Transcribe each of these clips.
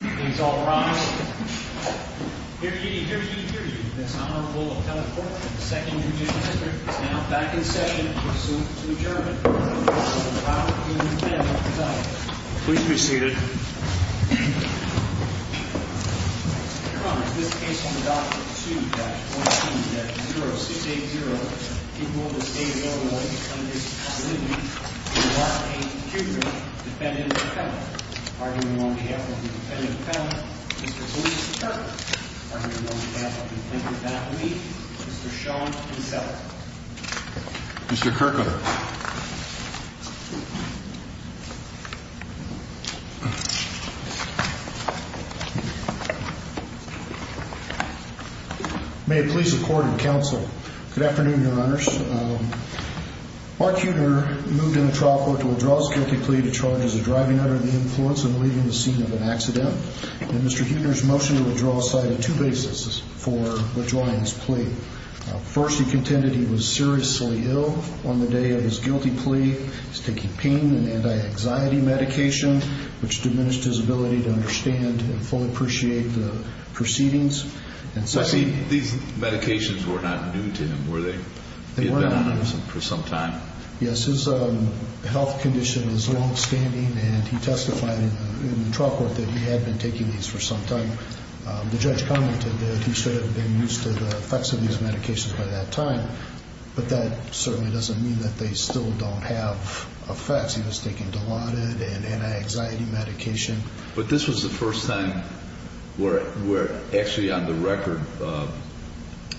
Please all rise. Hear ye, hear ye, hear ye. This Honorable Appellate Court of the Second Judicial District is now back in session and pursuant to adjournment. The Court of Appeal is now in session. Please be seated. Your Honor, this case on the Doctrine 2-14-0680 of the State of Illinois U.S. Constitution, the last case of the Judicial District, defendant to defendant, arguing on behalf of the defendant to defendant, Mr. Felicia Kirkwood. Arguing on behalf of the defendant that week, Mr. Sean Kinsella. Mr. Kirkwood. May it please the Court and Counsel, good afternoon, Your Honors. Mark Huettner moved in the trial court to withdraw his guilty plea to charges of driving under the influence and leaving the scene of an accident. And Mr. Huettner's motion to withdraw cited two bases for withdrawing his plea. First, he contended he was seriously ill on the day of his guilty plea. He was taking pain and anti-anxiety medication, which diminished his ability to understand and fully appreciate the proceedings. These medications were not new to him, were they? They were not new. For some time? Yes, his health condition is long-standing, and he testified in the trial court that he had been taking these for some time. The judge commented that he should have been used to the effects of these medications by that time, but that certainly doesn't mean that they still don't have effects. He was taking Dilaudid and anti-anxiety medication. But this was the first time where actually on the record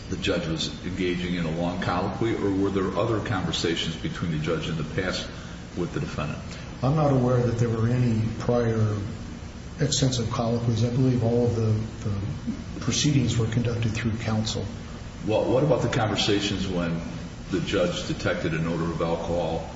the judge was engaging in a long colloquy, or were there other conversations between the judge and the past with the defendant? I'm not aware that there were any prior extensive colloquies. I believe all of the proceedings were conducted through counsel. Well, what about the conversations when the judge detected an odor of alcohol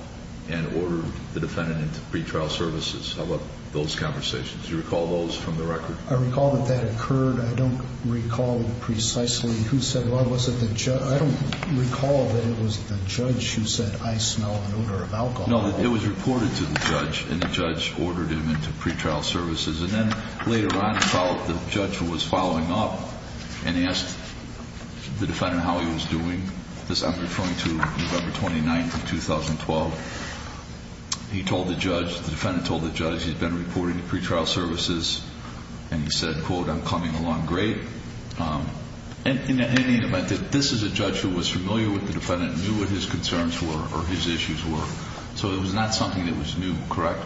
and ordered the defendant into pretrial services? How about those conversations? Do you recall those from the record? I recall that that occurred. I don't recall precisely who said what. I don't recall that it was the judge who said, I smell an odor of alcohol. No, it was reported to the judge, and the judge ordered him into pretrial services. And then later on, the judge was following up and asked the defendant how he was doing. I'm referring to November 29th of 2012. He told the judge, the defendant told the judge, he's been reporting to pretrial services, and he said, quote, I'm coming along great. And in any event, this is a judge who was familiar with the defendant, knew what his concerns were or his issues were. So it was not something that was new, correct?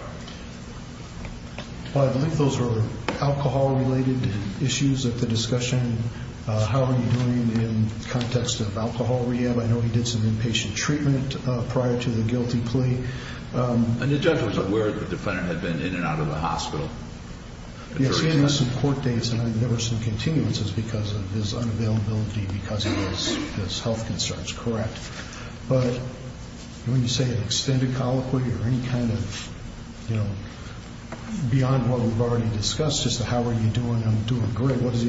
Well, I believe those were alcohol-related issues of the discussion. How are you doing in the context of alcohol rehab? I know he did some inpatient treatment prior to the guilty plea. And the judge was aware that the defendant had been in and out of the hospital? Yes, he had some court dates, and there were some continuances because of his unavailability, because of his health concerns, correct. But when you say an extended colloquy or any kind of, you know, beyond what we've already discussed, just a how are you doing, I'm doing great, what else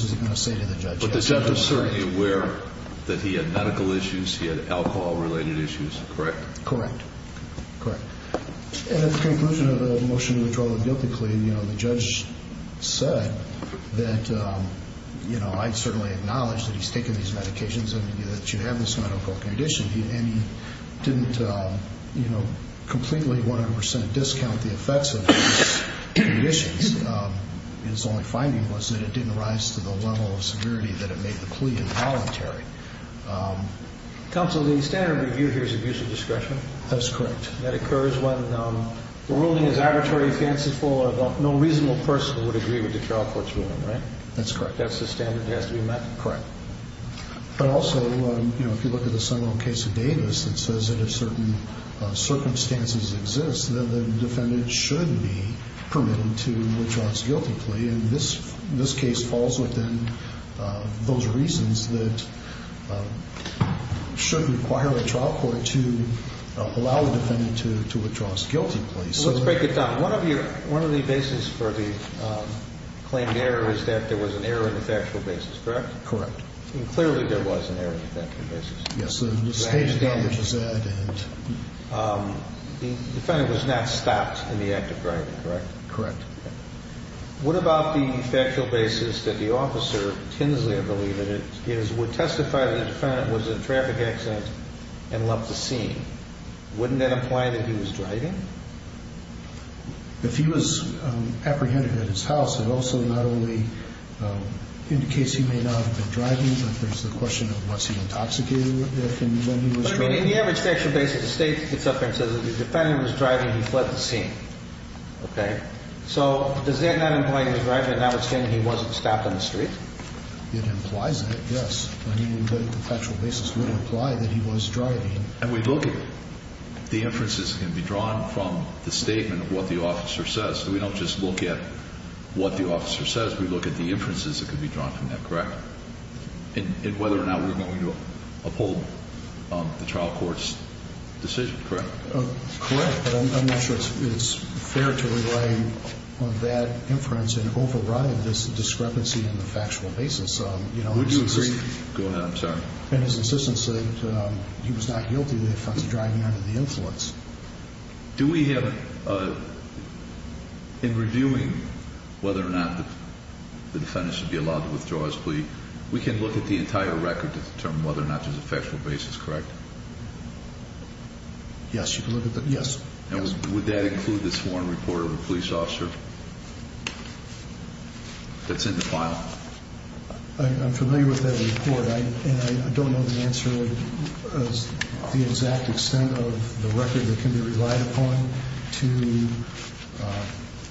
is he going to say to the judge? But the judge was certainly aware that he had medical issues, he had alcohol-related issues, correct? Correct, correct. And at the conclusion of the motion to withdraw the guilty plea, you know, the judge said that, you know, I certainly acknowledge that he's taken these medications and that you have this medical condition, and he didn't, you know, completely 100 percent discount the effects of these conditions. His only finding was that it didn't rise to the level of severity that it made the plea involuntary. Counsel, the standard review here is abuse of discretion? That's correct. That occurs when the ruling is arbitrary, fanciful, or no reasonable person would agree with the trial court's ruling, right? That's correct. That's the standard that has to be met? Correct. But also, you know, if you look at the Seminole case of Davis, it says that if certain circumstances exist, then the defendant should be permitted to withdraw his guilty plea. And this case falls within those reasons that should require a trial court to allow the defendant to withdraw his guilty plea. So let's break it down. One of the bases for the claimed error is that there was an error in the factual basis, correct? Correct. And clearly there was an error in the factual basis. Yes, the staged damage is that. The defendant was not stopped in the act of driving, correct? Correct. What about the factual basis that the officer, Tinsley I believe it is, would testify that the defendant was in a traffic accident and left the scene? Wouldn't that imply that he was driving? If he was apprehended at his house, it also not only indicates he may not have been driving, but there's the question of was he intoxicated when he was driving? I mean, in the average factual basis, the state gets up there and says that the defendant was driving and he fled the scene. Okay? So does that not imply he was driving and that would stand that he wasn't stopped on the street? It implies that, yes. I mean, the factual basis would imply that he was driving. And we look at the inferences that can be drawn from the statement of what the officer says. We don't just look at what the officer says. We look at the inferences that can be drawn from that, correct? And whether or not we're going to uphold the trial court's decision, correct? Correct. But I'm not sure it's fair to rely on that inference and override this discrepancy in the factual basis. Would you agree? Go ahead. I'm sorry. And his assistant said he was not guilty of the offense of driving under the influence. Do we have, in reviewing whether or not the defendant should be allowed to withdraw his plea, we can look at the entire record to determine whether or not there's a factual basis, correct? Yes, you can look at that. Yes. And would that include the sworn report of a police officer that's in the file? I'm familiar with that report. And I don't know the answer, the exact extent of the record that can be relied upon to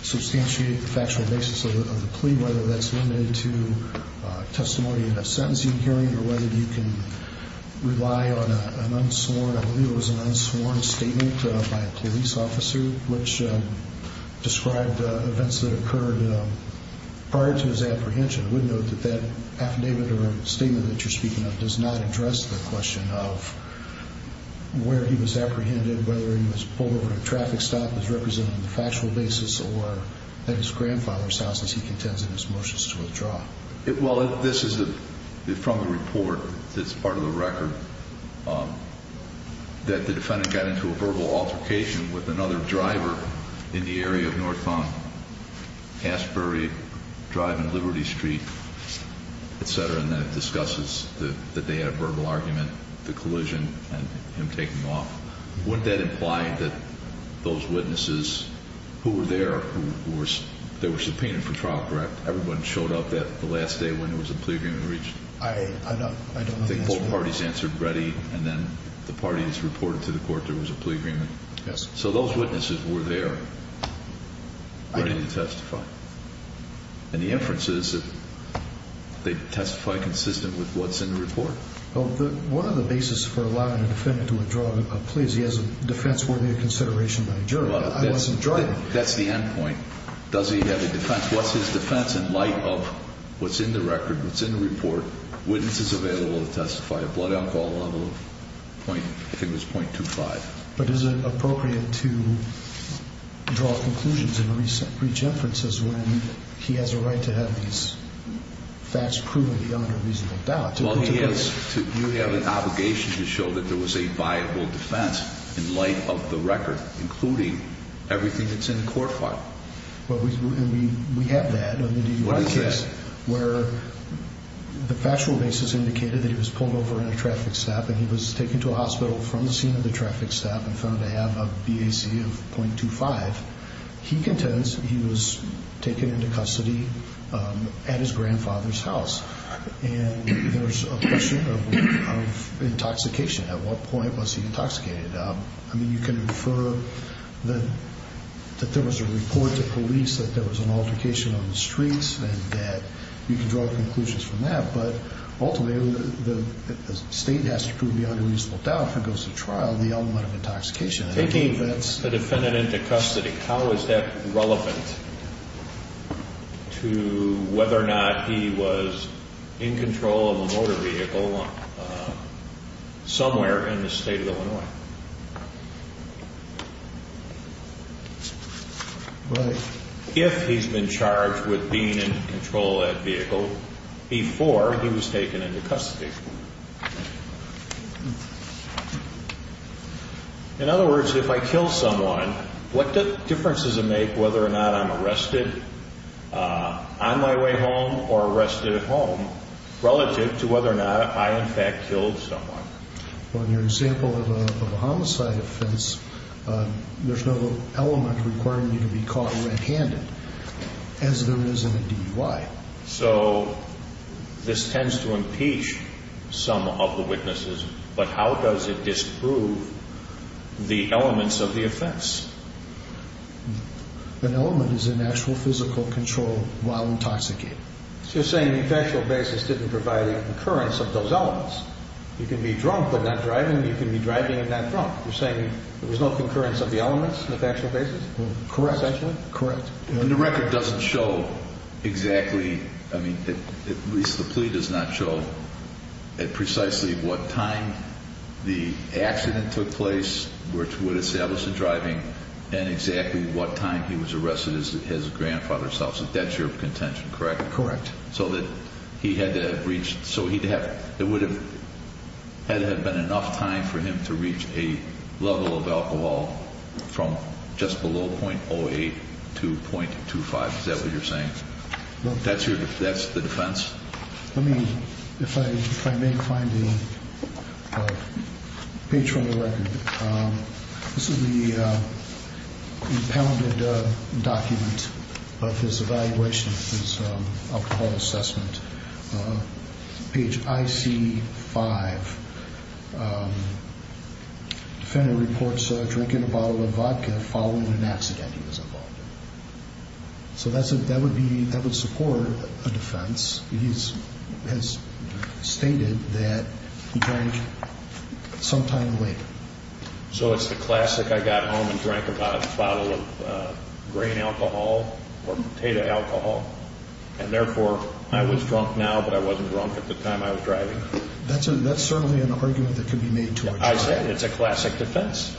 substantiate the factual basis of the plea, whether that's limited to testimony in a sentencing hearing or whether you can rely on an unsworn, I believe it was an unsworn statement by a police officer which described events that occurred prior to his apprehension. I would note that that affidavit or statement that you're speaking of does not address the question of where he was apprehended, whether he was pulled over at a traffic stop as represented on the factual basis or at his grandfather's house as he contends in his motions to withdraw. Well, this is from the report that's part of the record that the defendant got into a verbal altercation with another driver in the area of North Palm, Asbury Drive and Liberty Street, et cetera, and then it discusses that they had a verbal argument, the collision, and him taking off. Wouldn't that imply that those witnesses who were there, who were subpoenaed for trial, correct? Everyone showed up the last day when there was a plea agreement reached? I don't know the answer to that. I think both parties answered ready, and then the parties reported to the court there was a plea agreement. Yes. So those witnesses were there ready to testify. And the inference is that they testified consistent with what's in the report? Well, one of the basis for allowing a defendant to withdraw a plea is he has a defense worthy of consideration by a jury. I wasn't driving. That's the end point. Does he have a defense? What's his defense in light of what's in the record, what's in the report? Witnesses available to testify, a blood alcohol level of, I think it was .25. But is it appropriate to draw conclusions and reach inferences when he has a right to have these facts proven beyond a reasonable doubt? Well, you have an obligation to show that there was a viable defense in light of the record, including everything that's in the court file. And we have that in the DUI case. Where the factual basis indicated that he was pulled over in a traffic stop and he was taken to a hospital from the scene of the traffic stop and found to have a BAC of .25, he contends he was taken into custody at his grandfather's house. And there's a question of intoxication. At what point was he intoxicated? I mean, you can infer that there was a report to police that there was an altercation on the streets and that you can draw conclusions from that. But ultimately, the state has to prove beyond a reasonable doubt if it goes to trial the element of intoxication. Taking the defendant into custody, how is that relevant to whether or not he was in control of a motor vehicle somewhere in the state of Illinois? If he's been charged with being in control of that vehicle before he was taken into custody. In other words, if I kill someone, what difference does it make whether or not I'm arrested on my way home or arrested at home relative to whether or not I, in fact, killed someone? Well, in your example of a homicide offense, there's no element requiring you to be caught red-handed, as there is in a DUI. So this tends to impeach some of the witnesses, but how does it disprove the elements of the offense? An element is an actual physical control while intoxicated. So you're saying the factual basis didn't provide a concurrence of those elements. You can be drunk but not driving, you can be driving but not drunk. You're saying there was no concurrence of the elements on a factual basis? Correct. Essentially? Correct. And the record doesn't show exactly, at least the plea does not show precisely what time the accident took place, which would establish the driving, and exactly what time he was arrested at his grandfather's house. That's your contention, correct? Correct. So it would have been enough time for him to reach a level of alcohol from just below .08 to .25. Is that what you're saying? That's the defense? Let me, if I may find the page from the record. This is the impounded document of his evaluation of his alcohol assessment. Page IC5. Defender reports drinking a bottle of vodka following an accident he was involved in. So that would support a defense. He has stated that he drank sometime later. So it's the classic, I got home and drank about a bottle of grain alcohol or potato alcohol, and therefore I was drunk now but I wasn't drunk at the time I was driving? That's certainly an argument that could be made to a charge. I said it's a classic defense.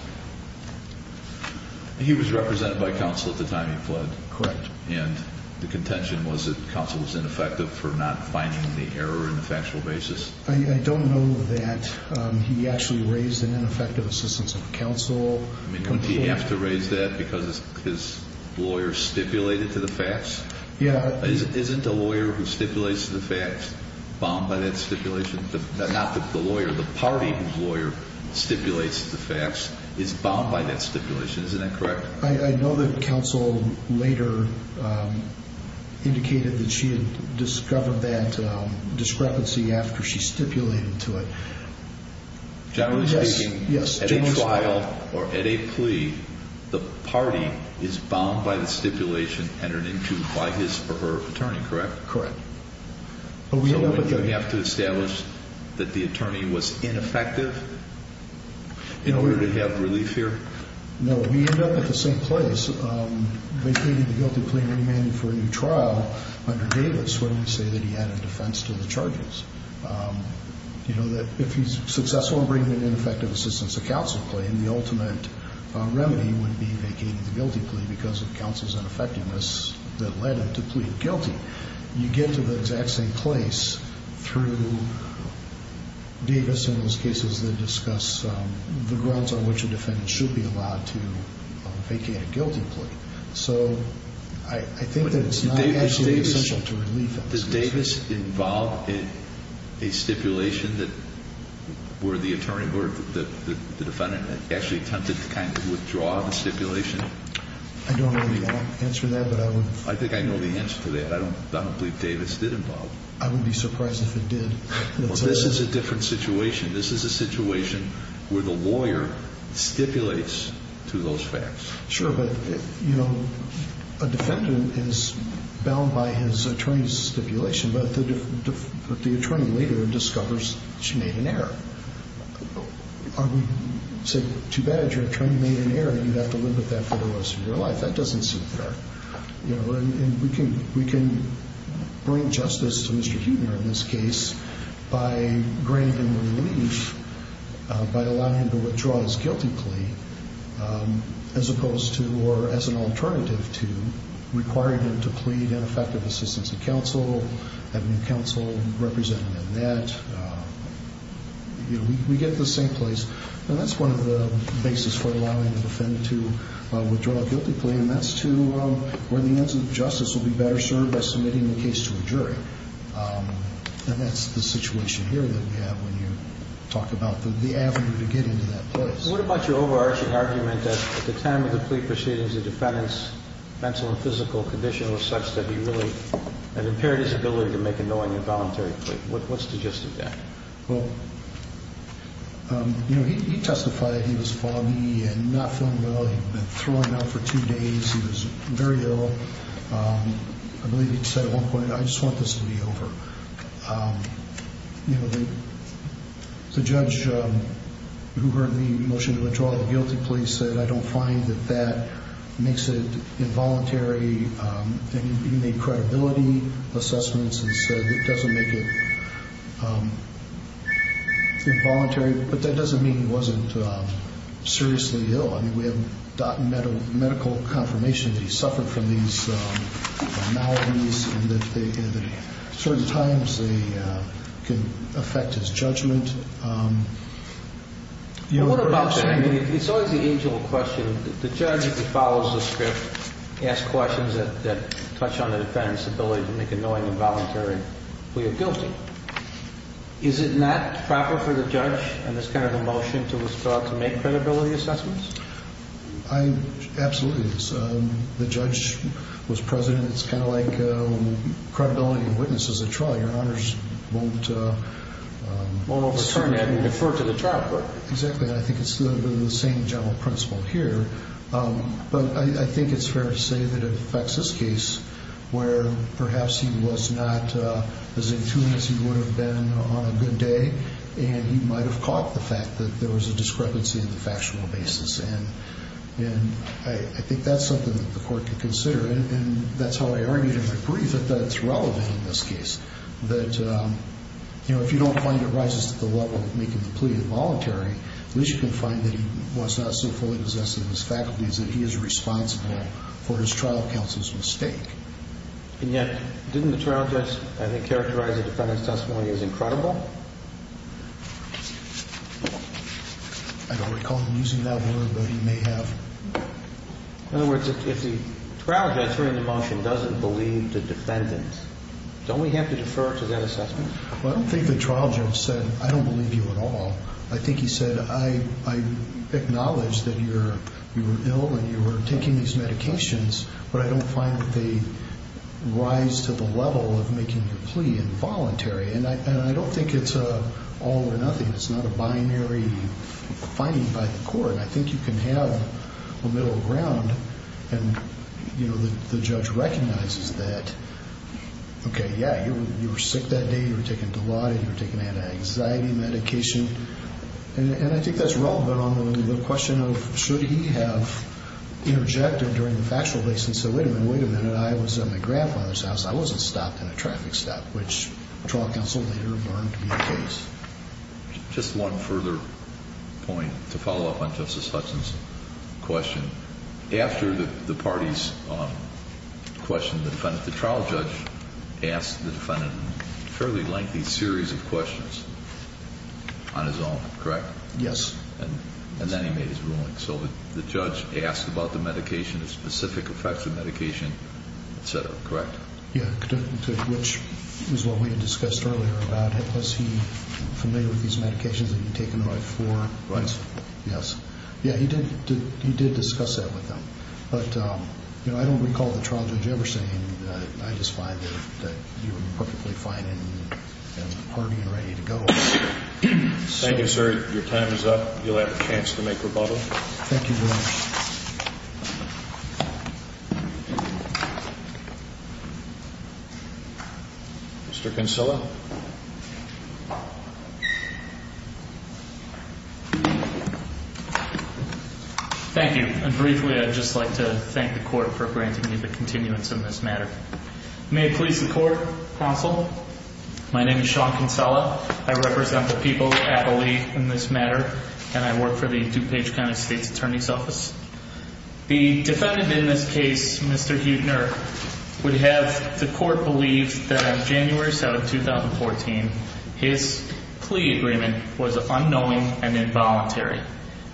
He was represented by counsel at the time he fled. Correct. And the contention was that counsel was ineffective for not finding the error in the factual basis? I don't know that he actually raised an ineffective assistance of counsel. Couldn't he have to raise that because his lawyer stipulated to the facts? Yeah. Isn't a lawyer who stipulates to the facts bound by that stipulation? Not the lawyer, the party whose lawyer stipulates to the facts is bound by that stipulation. Isn't that correct? I know that counsel later indicated that she had discovered that discrepancy after she stipulated to it. Generally speaking, at a trial or at a plea, the party is bound by the stipulation entered into by his or her attorney, correct? Correct. So we have to establish that the attorney was ineffective in order to have relief here? No. We end up at the same place, vacating the guilty plea and demanding for a new trial under Davis where we say that he added defense to the charges. You know, if he's successful in bringing an ineffective assistance of counsel plea, then the ultimate remedy would be vacating the guilty plea because of counsel's ineffectiveness that led him to plead guilty. You get to the exact same place through Davis in those cases that discuss the grounds on which a defendant should be allowed to vacate a guilty plea. So I think that it's not actually essential to relieve that situation. Does Davis involve a stipulation that where the attorney or the defendant actually attempted to kind of withdraw the stipulation? I don't know the answer to that, but I would... I think I know the answer to that. I don't believe Davis did involve. I wouldn't be surprised if it did. Well, this is a different situation. This is a situation where the lawyer stipulates to those facts. Sure, but, you know, a defendant is bound by his attorney's stipulation, but the attorney later discovers she made an error. So too bad if your attorney made an error, you'd have to live with that for the rest of your life. That doesn't seem fair. You know, and we can bring justice to Mr. Huebner in this case by granting him relief, by allowing him to withdraw his guilty plea as opposed to or as an alternative to requiring him to plead ineffective assistance of counsel, having counsel represent him in that. You know, we get the same place. And that's one of the basis for allowing the defendant to withdraw a guilty plea, and that's to where the ends of justice will be better served by submitting the case to a jury. And that's the situation here that we have when you talk about the avenue to get into that place. What about your overarching argument that at the time of the plea proceedings, the defendant's mental and physical condition was such that he really had impaired his ability to make a knowing and voluntary plea? What's the gist of that? Well, you know, he testified that he was foggy and not feeling well. He'd been throwing up for two days. He was very ill. I believe he said at one point, I just want this to be over. You know, the judge who heard the motion to withdraw the guilty plea said, I don't find that that makes it involuntary. And he made credibility assessments and said it doesn't make it involuntary. But that doesn't mean he wasn't seriously ill. I mean, we have medical confirmation that he suffered from these maladies and that certain times they can affect his judgment. What about that? I mean, it's always the age old question. The judge, if he follows the script, asks questions that touch on the defendant's ability to make a knowing and voluntary plea of guilty. Is it not proper for the judge in this kind of a motion to withdraw to make credibility assessments? Absolutely it is. The judge was president. It's kind of like credibility of witness as a trial. Your honors won't overturn that and defer to the trial court. Exactly. I think it's the same general principle here. But I think it's fair to say that it affects this case where perhaps he was not as in tune as he would have been on a good day. And he might have caught the fact that there was a discrepancy in the factual basis. And I think that's something that the court could consider. And that's how I argued in my brief that that's relevant in this case. That, you know, if you don't find it rises to the level of making the plea involuntary, at least you can find that he was not so fully possessed in his faculties that he is responsible for his trial counsel's mistake. And yet, didn't the trial judge, I think, characterize the defendant's testimony as incredible? I don't recall him using that word, but he may have. In other words, if the trial judge hearing the motion doesn't believe the defendant, don't we have to defer to that assessment? Well, I don't think the trial judge said, I don't believe you at all. I think he said, I acknowledge that you were ill and you were taking these medications, but I don't find that they rise to the level of making the plea involuntary. And I don't think it's an all or nothing. It's not a binary finding by the court. And I think you can have a middle ground. And, you know, the judge recognizes that, okay, yeah, you were sick that day, you were taking Dilaudid, you were taking anti-anxiety medication. And I think that's relevant on the question of should he have interjected during the factual basis and said, wait a minute, wait a minute, I was at my grandfather's house, I wasn't stopped in a traffic stop, which trial counsel later learned to be the case. Just one further point to follow up on Justice Hudson's question. After the parties questioned the defendant, the trial judge asked the defendant a fairly lengthy series of questions on his own, correct? Yes. And then he made his ruling. So the judge asked about the medication, the specific effects of medication, et cetera, correct? Yeah, which is what we had discussed earlier about, was he familiar with these medications that he had taken the night before? Right. Yes. Yeah, he did discuss that with them. But, you know, I don't recall the trial judge ever saying, I just find that you were perfectly fine and hearty and ready to go. Thank you, sir. Your time is up. You'll have a chance to make rebuttal. Thank you very much. Mr. Kinsella. Thank you. And briefly, I'd just like to thank the court for granting me the continuance in this matter. May it please the court, counsel. My name is Sean Kinsella. I represent the people that I believe in this matter, and I work for the DuPage County State's Attorney's Office. The defendant in this case, Mr. Huebner, would have the court believe that on January 7, 2014, his plea agreement was unknowing and involuntary,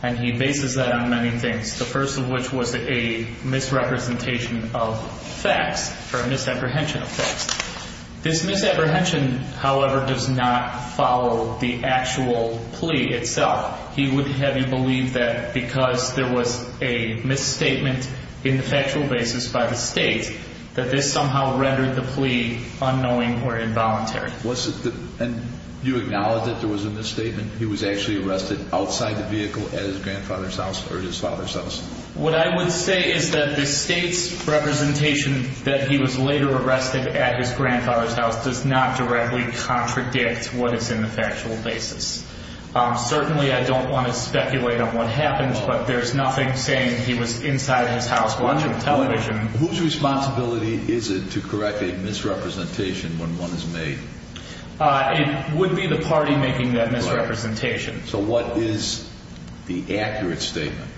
and he bases that on many things, the first of which was a misrepresentation of facts or a misapprehension of facts. This misapprehension, however, does not follow the actual plea itself. He would have you believe that because there was a misstatement in the factual basis by the state, that this somehow rendered the plea unknowing or involuntary. And you acknowledge that there was a misstatement? He was actually arrested outside the vehicle at his grandfather's house or his father's house? What I would say is that the state's representation that he was later arrested at his grandfather's house does not directly contradict what is in the factual basis. Certainly, I don't want to speculate on what happened, but there's nothing saying he was inside his house watching television. Whose responsibility is it to correct a misrepresentation when one is made? It would be the party making that misrepresentation. So what is the accurate statement?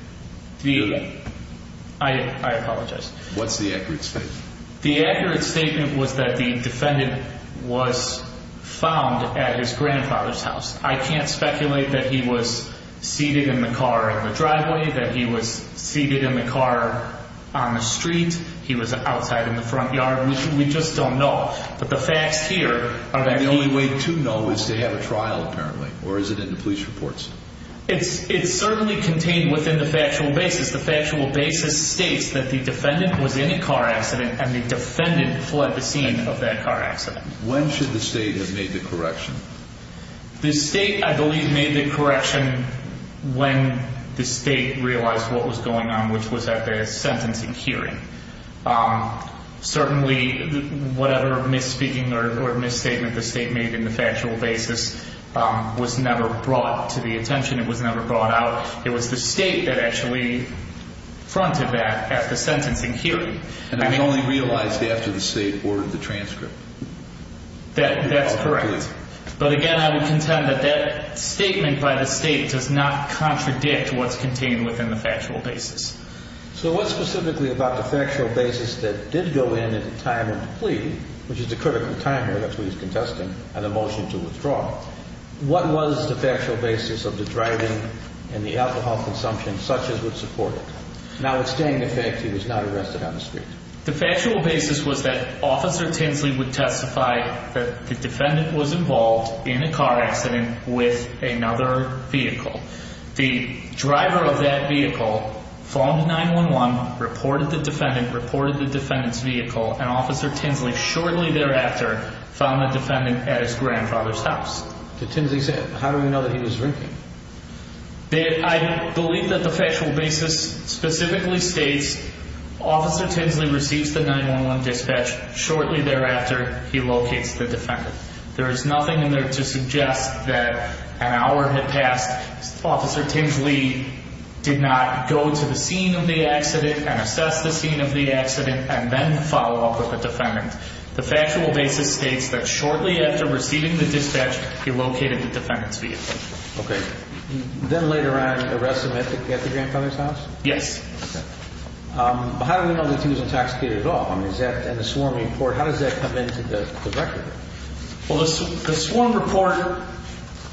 I apologize. What's the accurate statement? The accurate statement was that the defendant was found at his grandfather's house. I can't speculate that he was seated in the car in the driveway, that he was seated in the car on the street, he was outside in the front yard. We just don't know. But the facts here are that he... And the only way to know is to have a trial, apparently, or is it in the police reports? It's certainly contained within the factual basis. The factual basis states that the defendant was in a car accident and the defendant fled the scene of that car accident. When should the state have made the correction? The state, I believe, made the correction when the state realized what was going on, which was at the sentencing hearing. Certainly, whatever misspeaking or misstatement the state made in the factual basis was never brought to the attention. It was never brought out. It was the state that actually fronted that at the sentencing hearing. And it was only realized after the state ordered the transcript? That's correct. But again, I would contend that that statement by the state does not contradict what's contained within the factual basis. So what's specifically about the factual basis that did go in at the time of the plea, which is the critical time here, that's where he's contesting, and the motion to withdraw? What was the factual basis of the driving and the alcohol consumption such as would support it? Notwithstanding the fact that he was not arrested on the street. The factual basis was that Officer Tinsley would testify that the defendant was involved in a car accident with another vehicle. The driver of that vehicle phoned 911, reported the defendant, reported the defendant's vehicle, and Officer Tinsley shortly thereafter found the defendant at his grandfather's house. Did Tinsley say it? How do we know that he was drinking? I believe that the factual basis specifically states Officer Tinsley receives the 911 dispatch shortly thereafter he locates the defendant. There is nothing in there to suggest that an hour had passed, Officer Tinsley did not go to the scene of the accident and assess the scene of the accident and then follow up with the defendant. The factual basis states that shortly after receiving the dispatch, he located the defendant's vehicle. Okay. Then later on, arrest him at the grandfather's house? Yes. Okay. But how do we know that he was intoxicated at all? How does that come into the record? The sworn report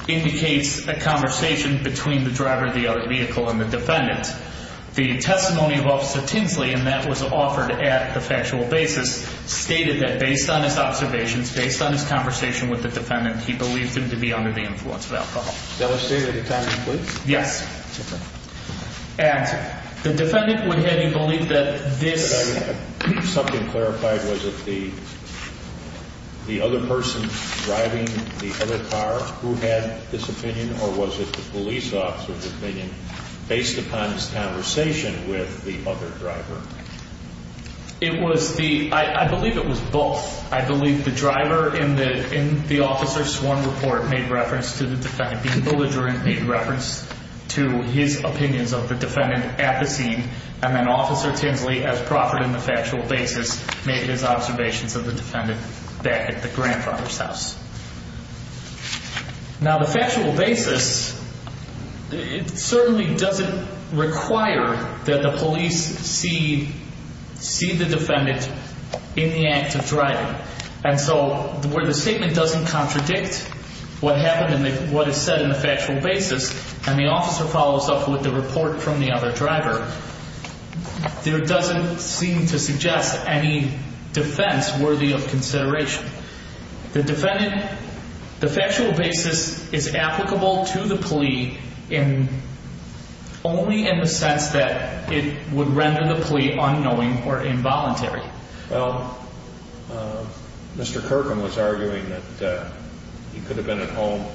indicates a conversation between the driver of the vehicle and the defendant. The testimony of Officer Tinsley, and that was offered at the factual basis, stated that based on his observations, based on his conversation with the defendant, he believed him to be under the influence of alcohol. That was stated at the time of the police? Yes. And the defendant would have you believe that this... If I could have something clarified, was it the other person driving the other car who had this opinion, or was it the police officer's opinion based upon his conversation with the other driver? It was the, I believe it was both. I believe the driver in the officer's sworn report made reference to the defendant. The other driver made reference to his opinions of the defendant at the scene, and then Officer Tinsley, as proffered in the factual basis, made his observations of the defendant back at the grandfather's house. Now, the factual basis, it certainly doesn't require that the police see the defendant in the act of driving. And so where the statement doesn't contradict what happened and what is said in the factual basis, and the officer follows up with the report from the other driver, there doesn't seem to suggest any defense worthy of consideration. The defendant, the factual basis is applicable to the plea only in the sense that it would render the plea unknowing or involuntary. Well, Mr. Kirkham was arguing that he could have been at home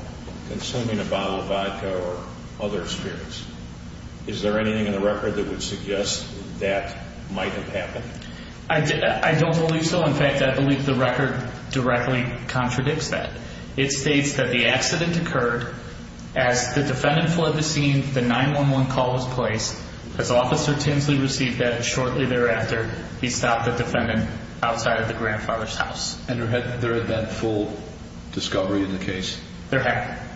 consuming a bottle of vodka or other spirits. Is there anything in the record that would suggest that might have happened? I don't believe so. In fact, I believe the record directly contradicts that. It states that the accident occurred as the defendant fled the scene, the 911 call was placed. As Officer Tinsley received that, shortly thereafter, he stopped the defendant outside of the grandfather's house. And there had been full discovery in the case? There had been.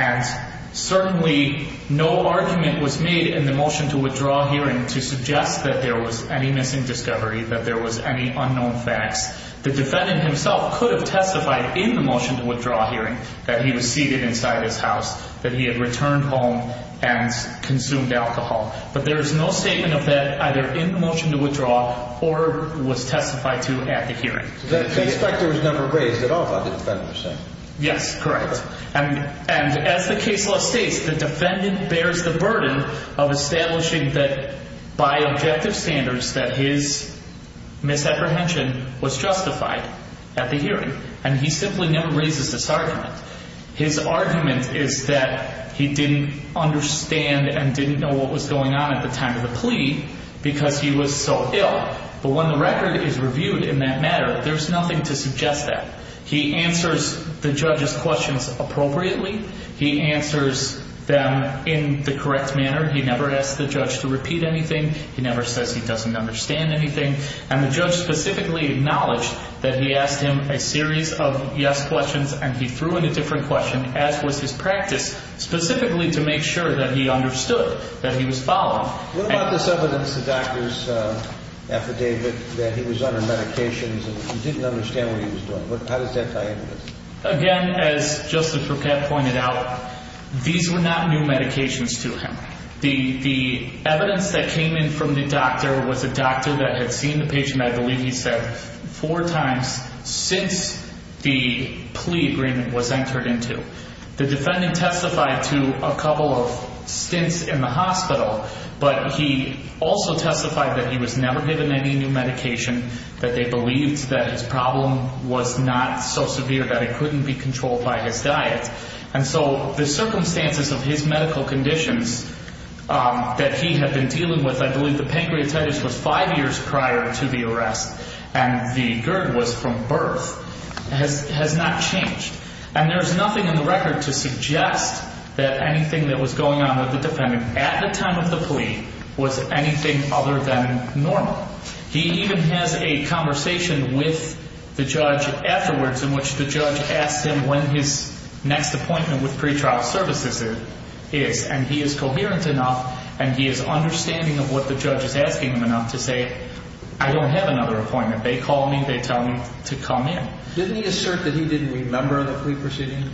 And certainly no argument was made in the motion to withdraw hearing to suggest that there was any missing discovery, that there was any unknown facts. The defendant himself could have testified in the motion to withdraw hearing that he was seated inside his house, that he had returned home and consumed alcohol. But there is no statement of that either in the motion to withdraw or was testified to at the hearing. The inspector was never raised at all by the defendant, you're saying? Yes, correct. And as the case law states, the defendant bears the burden of establishing that by objective standards, that his misapprehension was justified at the hearing. And he simply never raises this argument. His argument is that he didn't understand and didn't know what was going on at the time of the plea because he was so ill. But when the record is reviewed in that matter, there's nothing to suggest that. He answers the judge's questions appropriately. He answers them in the correct manner. He never asks the judge to repeat anything. He never says he doesn't understand anything. And the judge specifically acknowledged that he asked him a series of yes questions and he threw in a different question, as was his practice, specifically to make sure that he understood that he was followed. What about this evidence, the doctor's affidavit, that he was under medications and he didn't understand what he was doing? How does that tie in with this? Again, as Justice Bruquette pointed out, these were not new medications to him. The evidence that came in from the doctor was a doctor that had seen the patient, I believe he said, four times since the plea agreement was entered into. The defendant testified to a couple of stints in the hospital, but he also testified that he was never given any new medication, that they believed that his problem was not so severe that it couldn't be controlled by his diet. And so the circumstances of his medical conditions that he had been dealing with, I believe the pancreatitis was five years prior to the arrest and the GERD was from birth, has not changed. And there is nothing in the record to suggest that anything that was going on with the defendant at the time of the plea was anything other than normal. He even has a conversation with the judge afterwards in which the judge asks him when his next appointment with pretrial services is. And he is coherent enough and he is understanding of what the judge is asking him enough to say, I don't have another appointment. They call me, they tell me to come in. Didn't he assert that he didn't remember the plea proceedings?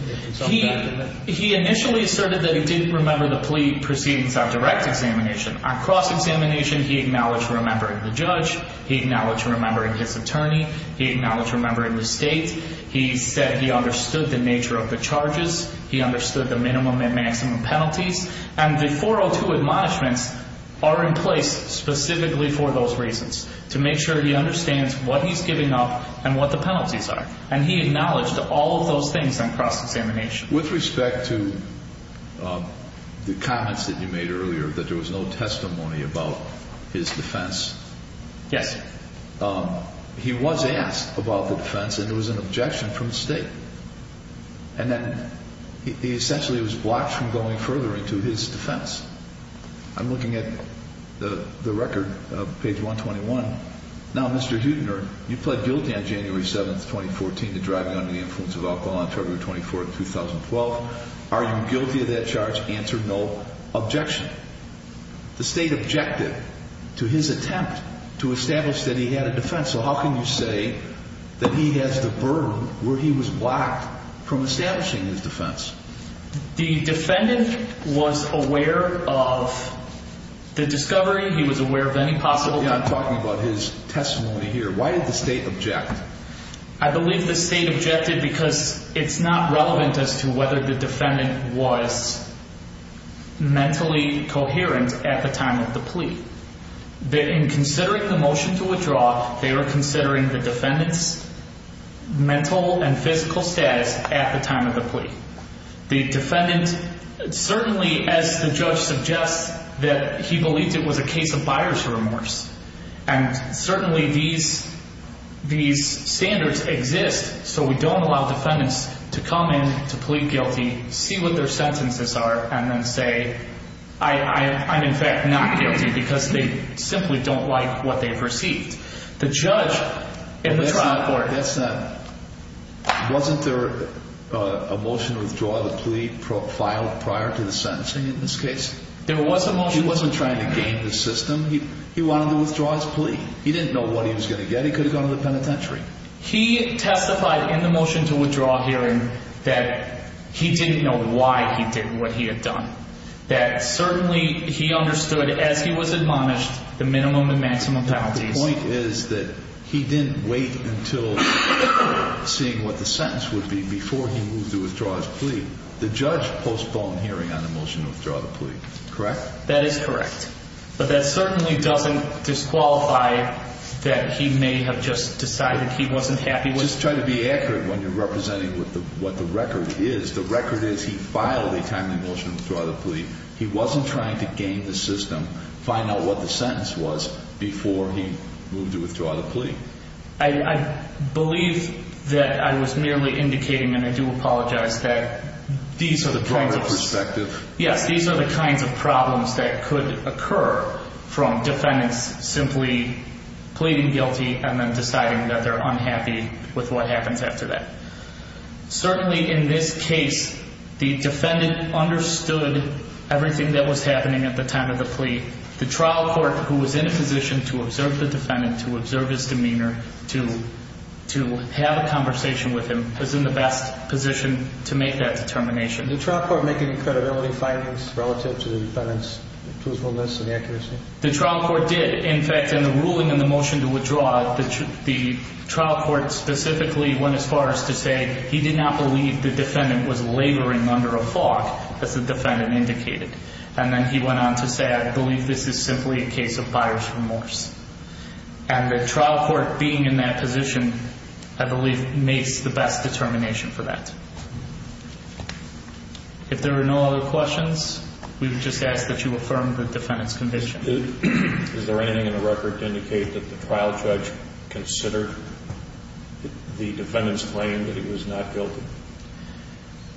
He initially asserted that he didn't remember the plea proceedings on direct examination. On cross-examination, he acknowledged remembering the judge. He acknowledged remembering his attorney. He acknowledged remembering the state. He said he understood the nature of the charges. He understood the minimum and maximum penalties. And the 402 admonishments are in place specifically for those reasons, to make sure he understands what he's giving up and what the penalties are. And he acknowledged all of those things on cross-examination. With respect to the comments that you made earlier that there was no testimony about his defense. Yes. He was asked about the defense and it was an objection from the state. And then he essentially was blocked from going further into his defense. I'm looking at the record, page 121. Now, Mr. Huebner, you pled guilty on January 7th, 2014 to driving under the influence of alcohol on February 24th, 2012. Are you guilty of that charge? Answer, no. Objection. The state objected to his attempt to establish that he had a defense. So how can you say that he has the burden where he was blocked from establishing his defense? The defendant was aware of the discovery. He was aware of any possible. I'm talking about his testimony here. Why did the state object? I believe the state objected because it's not relevant as to whether the defendant was mentally coherent at the time of the plea. In considering the motion to withdraw, they were considering the defendant's mental and physical status at the time of the plea. The defendant certainly, as the judge suggests, that he believed it was a case of buyer's remorse. And certainly these standards exist so we don't allow defendants to come in to plead guilty, see what their sentences are, and then say, I'm in fact not guilty because they simply don't like what they've received. Wasn't there a motion to withdraw the plea filed prior to the sentencing in this case? There was a motion. He wasn't trying to game the system. He wanted to withdraw his plea. He didn't know what he was going to get. He could have gone to the penitentiary. He testified in the motion to withdraw hearing that he didn't know why he did what he had done, that certainly he understood as he was admonished the minimum and maximum penalties. The point is that he didn't wait until seeing what the sentence would be before he moved to withdraw his plea. The judge postponed hearing on the motion to withdraw the plea, correct? That is correct. But that certainly doesn't disqualify that he may have just decided he wasn't happy with it. Just try to be accurate when you're representing what the record is. The record is he filed a timely motion to withdraw the plea. He wasn't trying to game the system, find out what the sentence was before he moved to withdraw the plea. I believe that I was merely indicating, and I do apologize, that these are the kinds of problems that could occur from defendants simply pleading guilty and then deciding that they're unhappy with what happens after that. Certainly in this case, the defendant understood everything that was happening at the time of the plea. The trial court, who was in a position to observe the defendant, to observe his demeanor, to have a conversation with him, was in the best position to make that determination. Did the trial court make any credibility findings relative to the defendant's truthfulness and accuracy? The trial court did, in fact. In the ruling in the motion to withdraw, the trial court specifically went as far as to say he did not believe the defendant was laboring under a fog, as the defendant indicated. And then he went on to say, I believe this is simply a case of buyer's remorse. And the trial court being in that position, I believe, makes the best determination for that. If there are no other questions, we would just ask that you affirm the defendant's conviction. Is there anything in the record to indicate that the trial judge considered the defendant's claim that he was not guilty?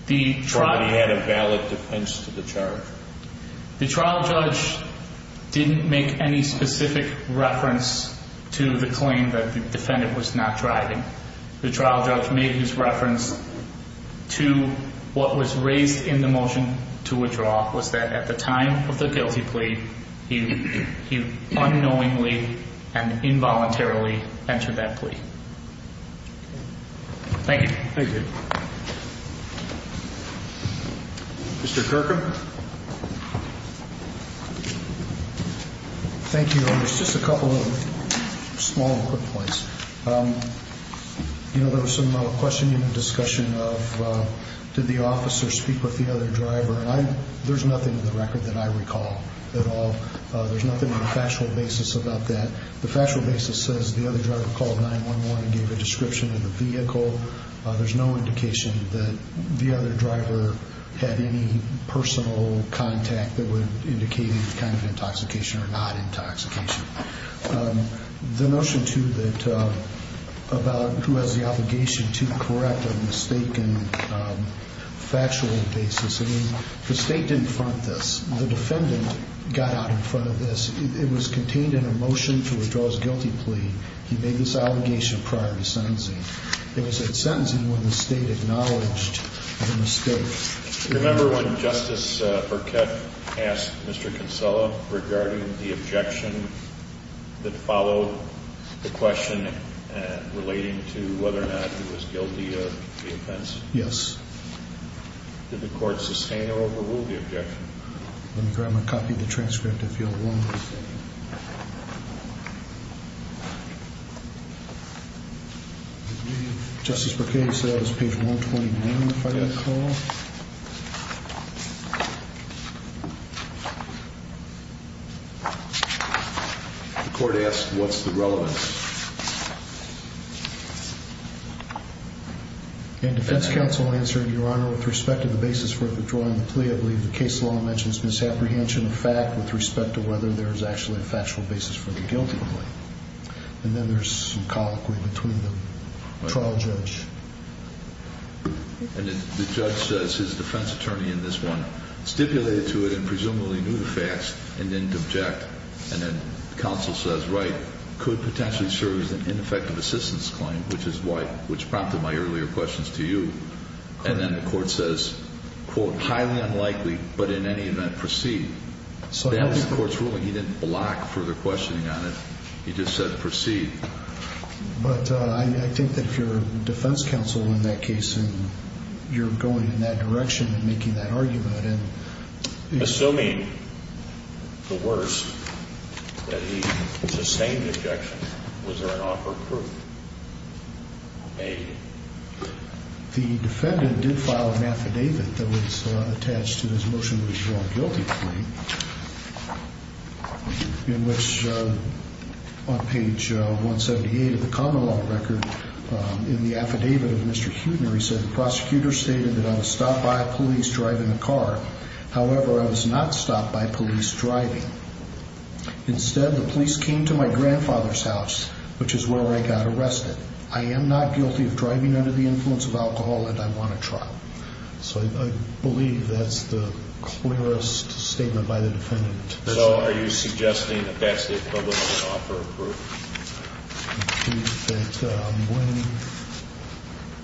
He had a valid defense to the charge. The trial judge didn't make any specific reference to the claim that the defendant was not driving. The trial judge made his reference to what was raised in the motion to withdraw, was that at the time of the guilty plea, he unknowingly and involuntarily entered that plea. Thank you. Mr. Kirkham? Thank you. Just a couple of small quick points. You know, there was some questioning and discussion of did the officer speak with the other driver? And there's nothing in the record that I recall at all. There's nothing on a factual basis about that. The factual basis says the other driver called 911 and gave a description of the vehicle. There's no indication that the other driver had any personal contact that would indicate any kind of intoxication or not intoxication. The notion, too, that about who has the obligation to correct a mistaken factual basis. I mean, the State didn't front this. The defendant got out in front of this. It was contained in a motion to withdraw his guilty plea. He made this allegation prior to sentencing. It was at sentencing when the State acknowledged the mistake. Remember when Justice Burkett asked Mr. Kinsella regarding the objection that followed the question relating to whether or not he was guilty of the offense? Yes. Did the court sustain or overrule the objection? Let me grab my copy of the transcript, if you'll. Justice Burkett, you said that was page 129, if I got it wrong. The court asked what's the relevance. And defense counsel answered, Your Honor, with respect to the basis for withdrawing the plea, I believe the case law mentions misapprehension of fact with respect to whether or not the defendant was guilty of the offense. And then there's actually a factual basis for the guilty plea. And then there's some colloquy between the trial judge. And the judge says his defense attorney in this one stipulated to it and presumably knew the facts and didn't object. And then counsel says, right, could potentially serve as an ineffective assistance claim, which prompted my earlier questions to you. And then the court says, quote, highly unlikely, but in any event proceed. That was the court's ruling. He didn't block further questioning on it. He just said proceed. But I think that if you're defense counsel in that case and you're going in that direction and making that argument. Assuming the words that he sustained objection, was there an offer of proof? Maybe. The defendant did file an affidavit that was attached to this motion to withdraw a guilty plea. In which on page 178 of the common law record in the affidavit of Mr. Hutner, he said the prosecutor stated that I was stopped by police driving a car. However, I was not stopped by police driving. Instead, the police came to my grandfather's house, which is where I got arrested. I am not guilty of driving under the influence of alcohol and I want a trial. So I believe that's the clearest statement by the defendant. So are you suggesting that that's the public offer of proof?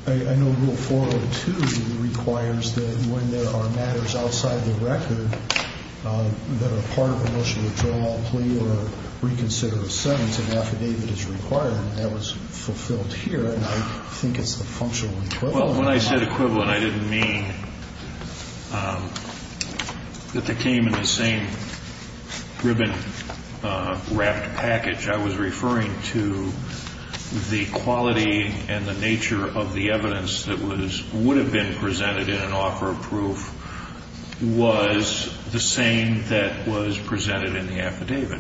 I know rule 402 requires that when there are matters outside the record that are part of a motion to withdraw a plea or reconsider a sentence, an affidavit is required. And that was fulfilled here. And I think it's the functional equivalent. Well, when I said equivalent, I didn't mean that they came in the same ribbon wrapped package. I was referring to the quality and the nature of the evidence that was would have been presented in an offer of proof was the same that was presented in the affidavit.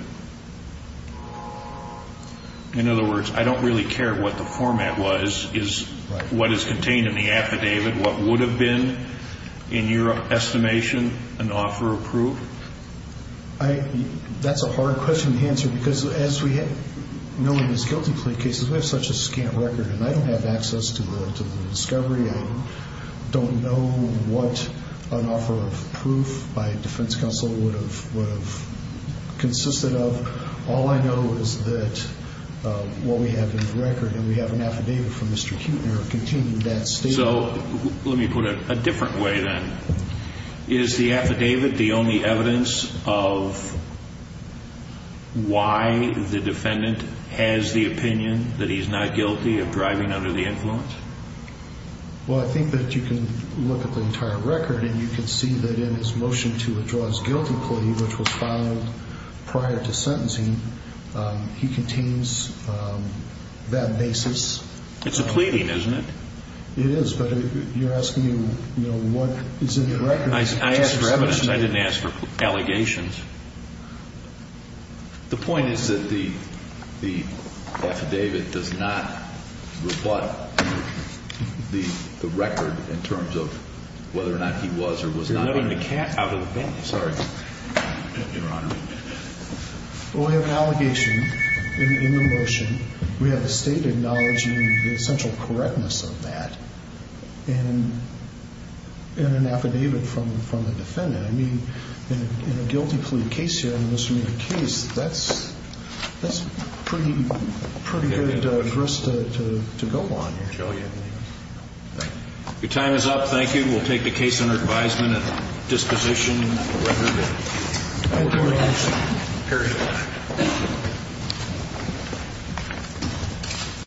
In other words, I don't really care what the format was, is what is contained in the affidavit. What would have been in your estimation an offer of proof? That's a hard question to answer because as we know in these guilty plea cases, we have such a scant record and I don't have access to the discovery. I don't know what an offer of proof by a defense counsel would have consisted of. All I know is that what we have in the record and we have an affidavit from Mr. Kutner contained in that statement. So let me put it a different way then. Is the affidavit the only evidence of why the defendant has the opinion that he's not guilty of driving under the influence? Well, I think that you can look at the entire record and you can see that in his motion to withdraw his guilty plea, which was filed prior to sentencing, he contains that basis. It's a pleading, isn't it? It is, but you're asking, you know, what is in the record. I asked for evidence. I didn't ask for allegations. The point is that the affidavit does not rebut the record in terms of whether or not he was or was not. You're letting the cat out of the bag. Sorry, Your Honor. Well, we have an allegation in the motion. We have the State acknowledging the essential correctness of that and an affidavit from the defendant. I mean, in a guilty plea case here, in a misdemeanor case, that's pretty good grist to go on here. Thank you. We will take the case under advisement at disposition of the record. Thank you, Your Honor. Period.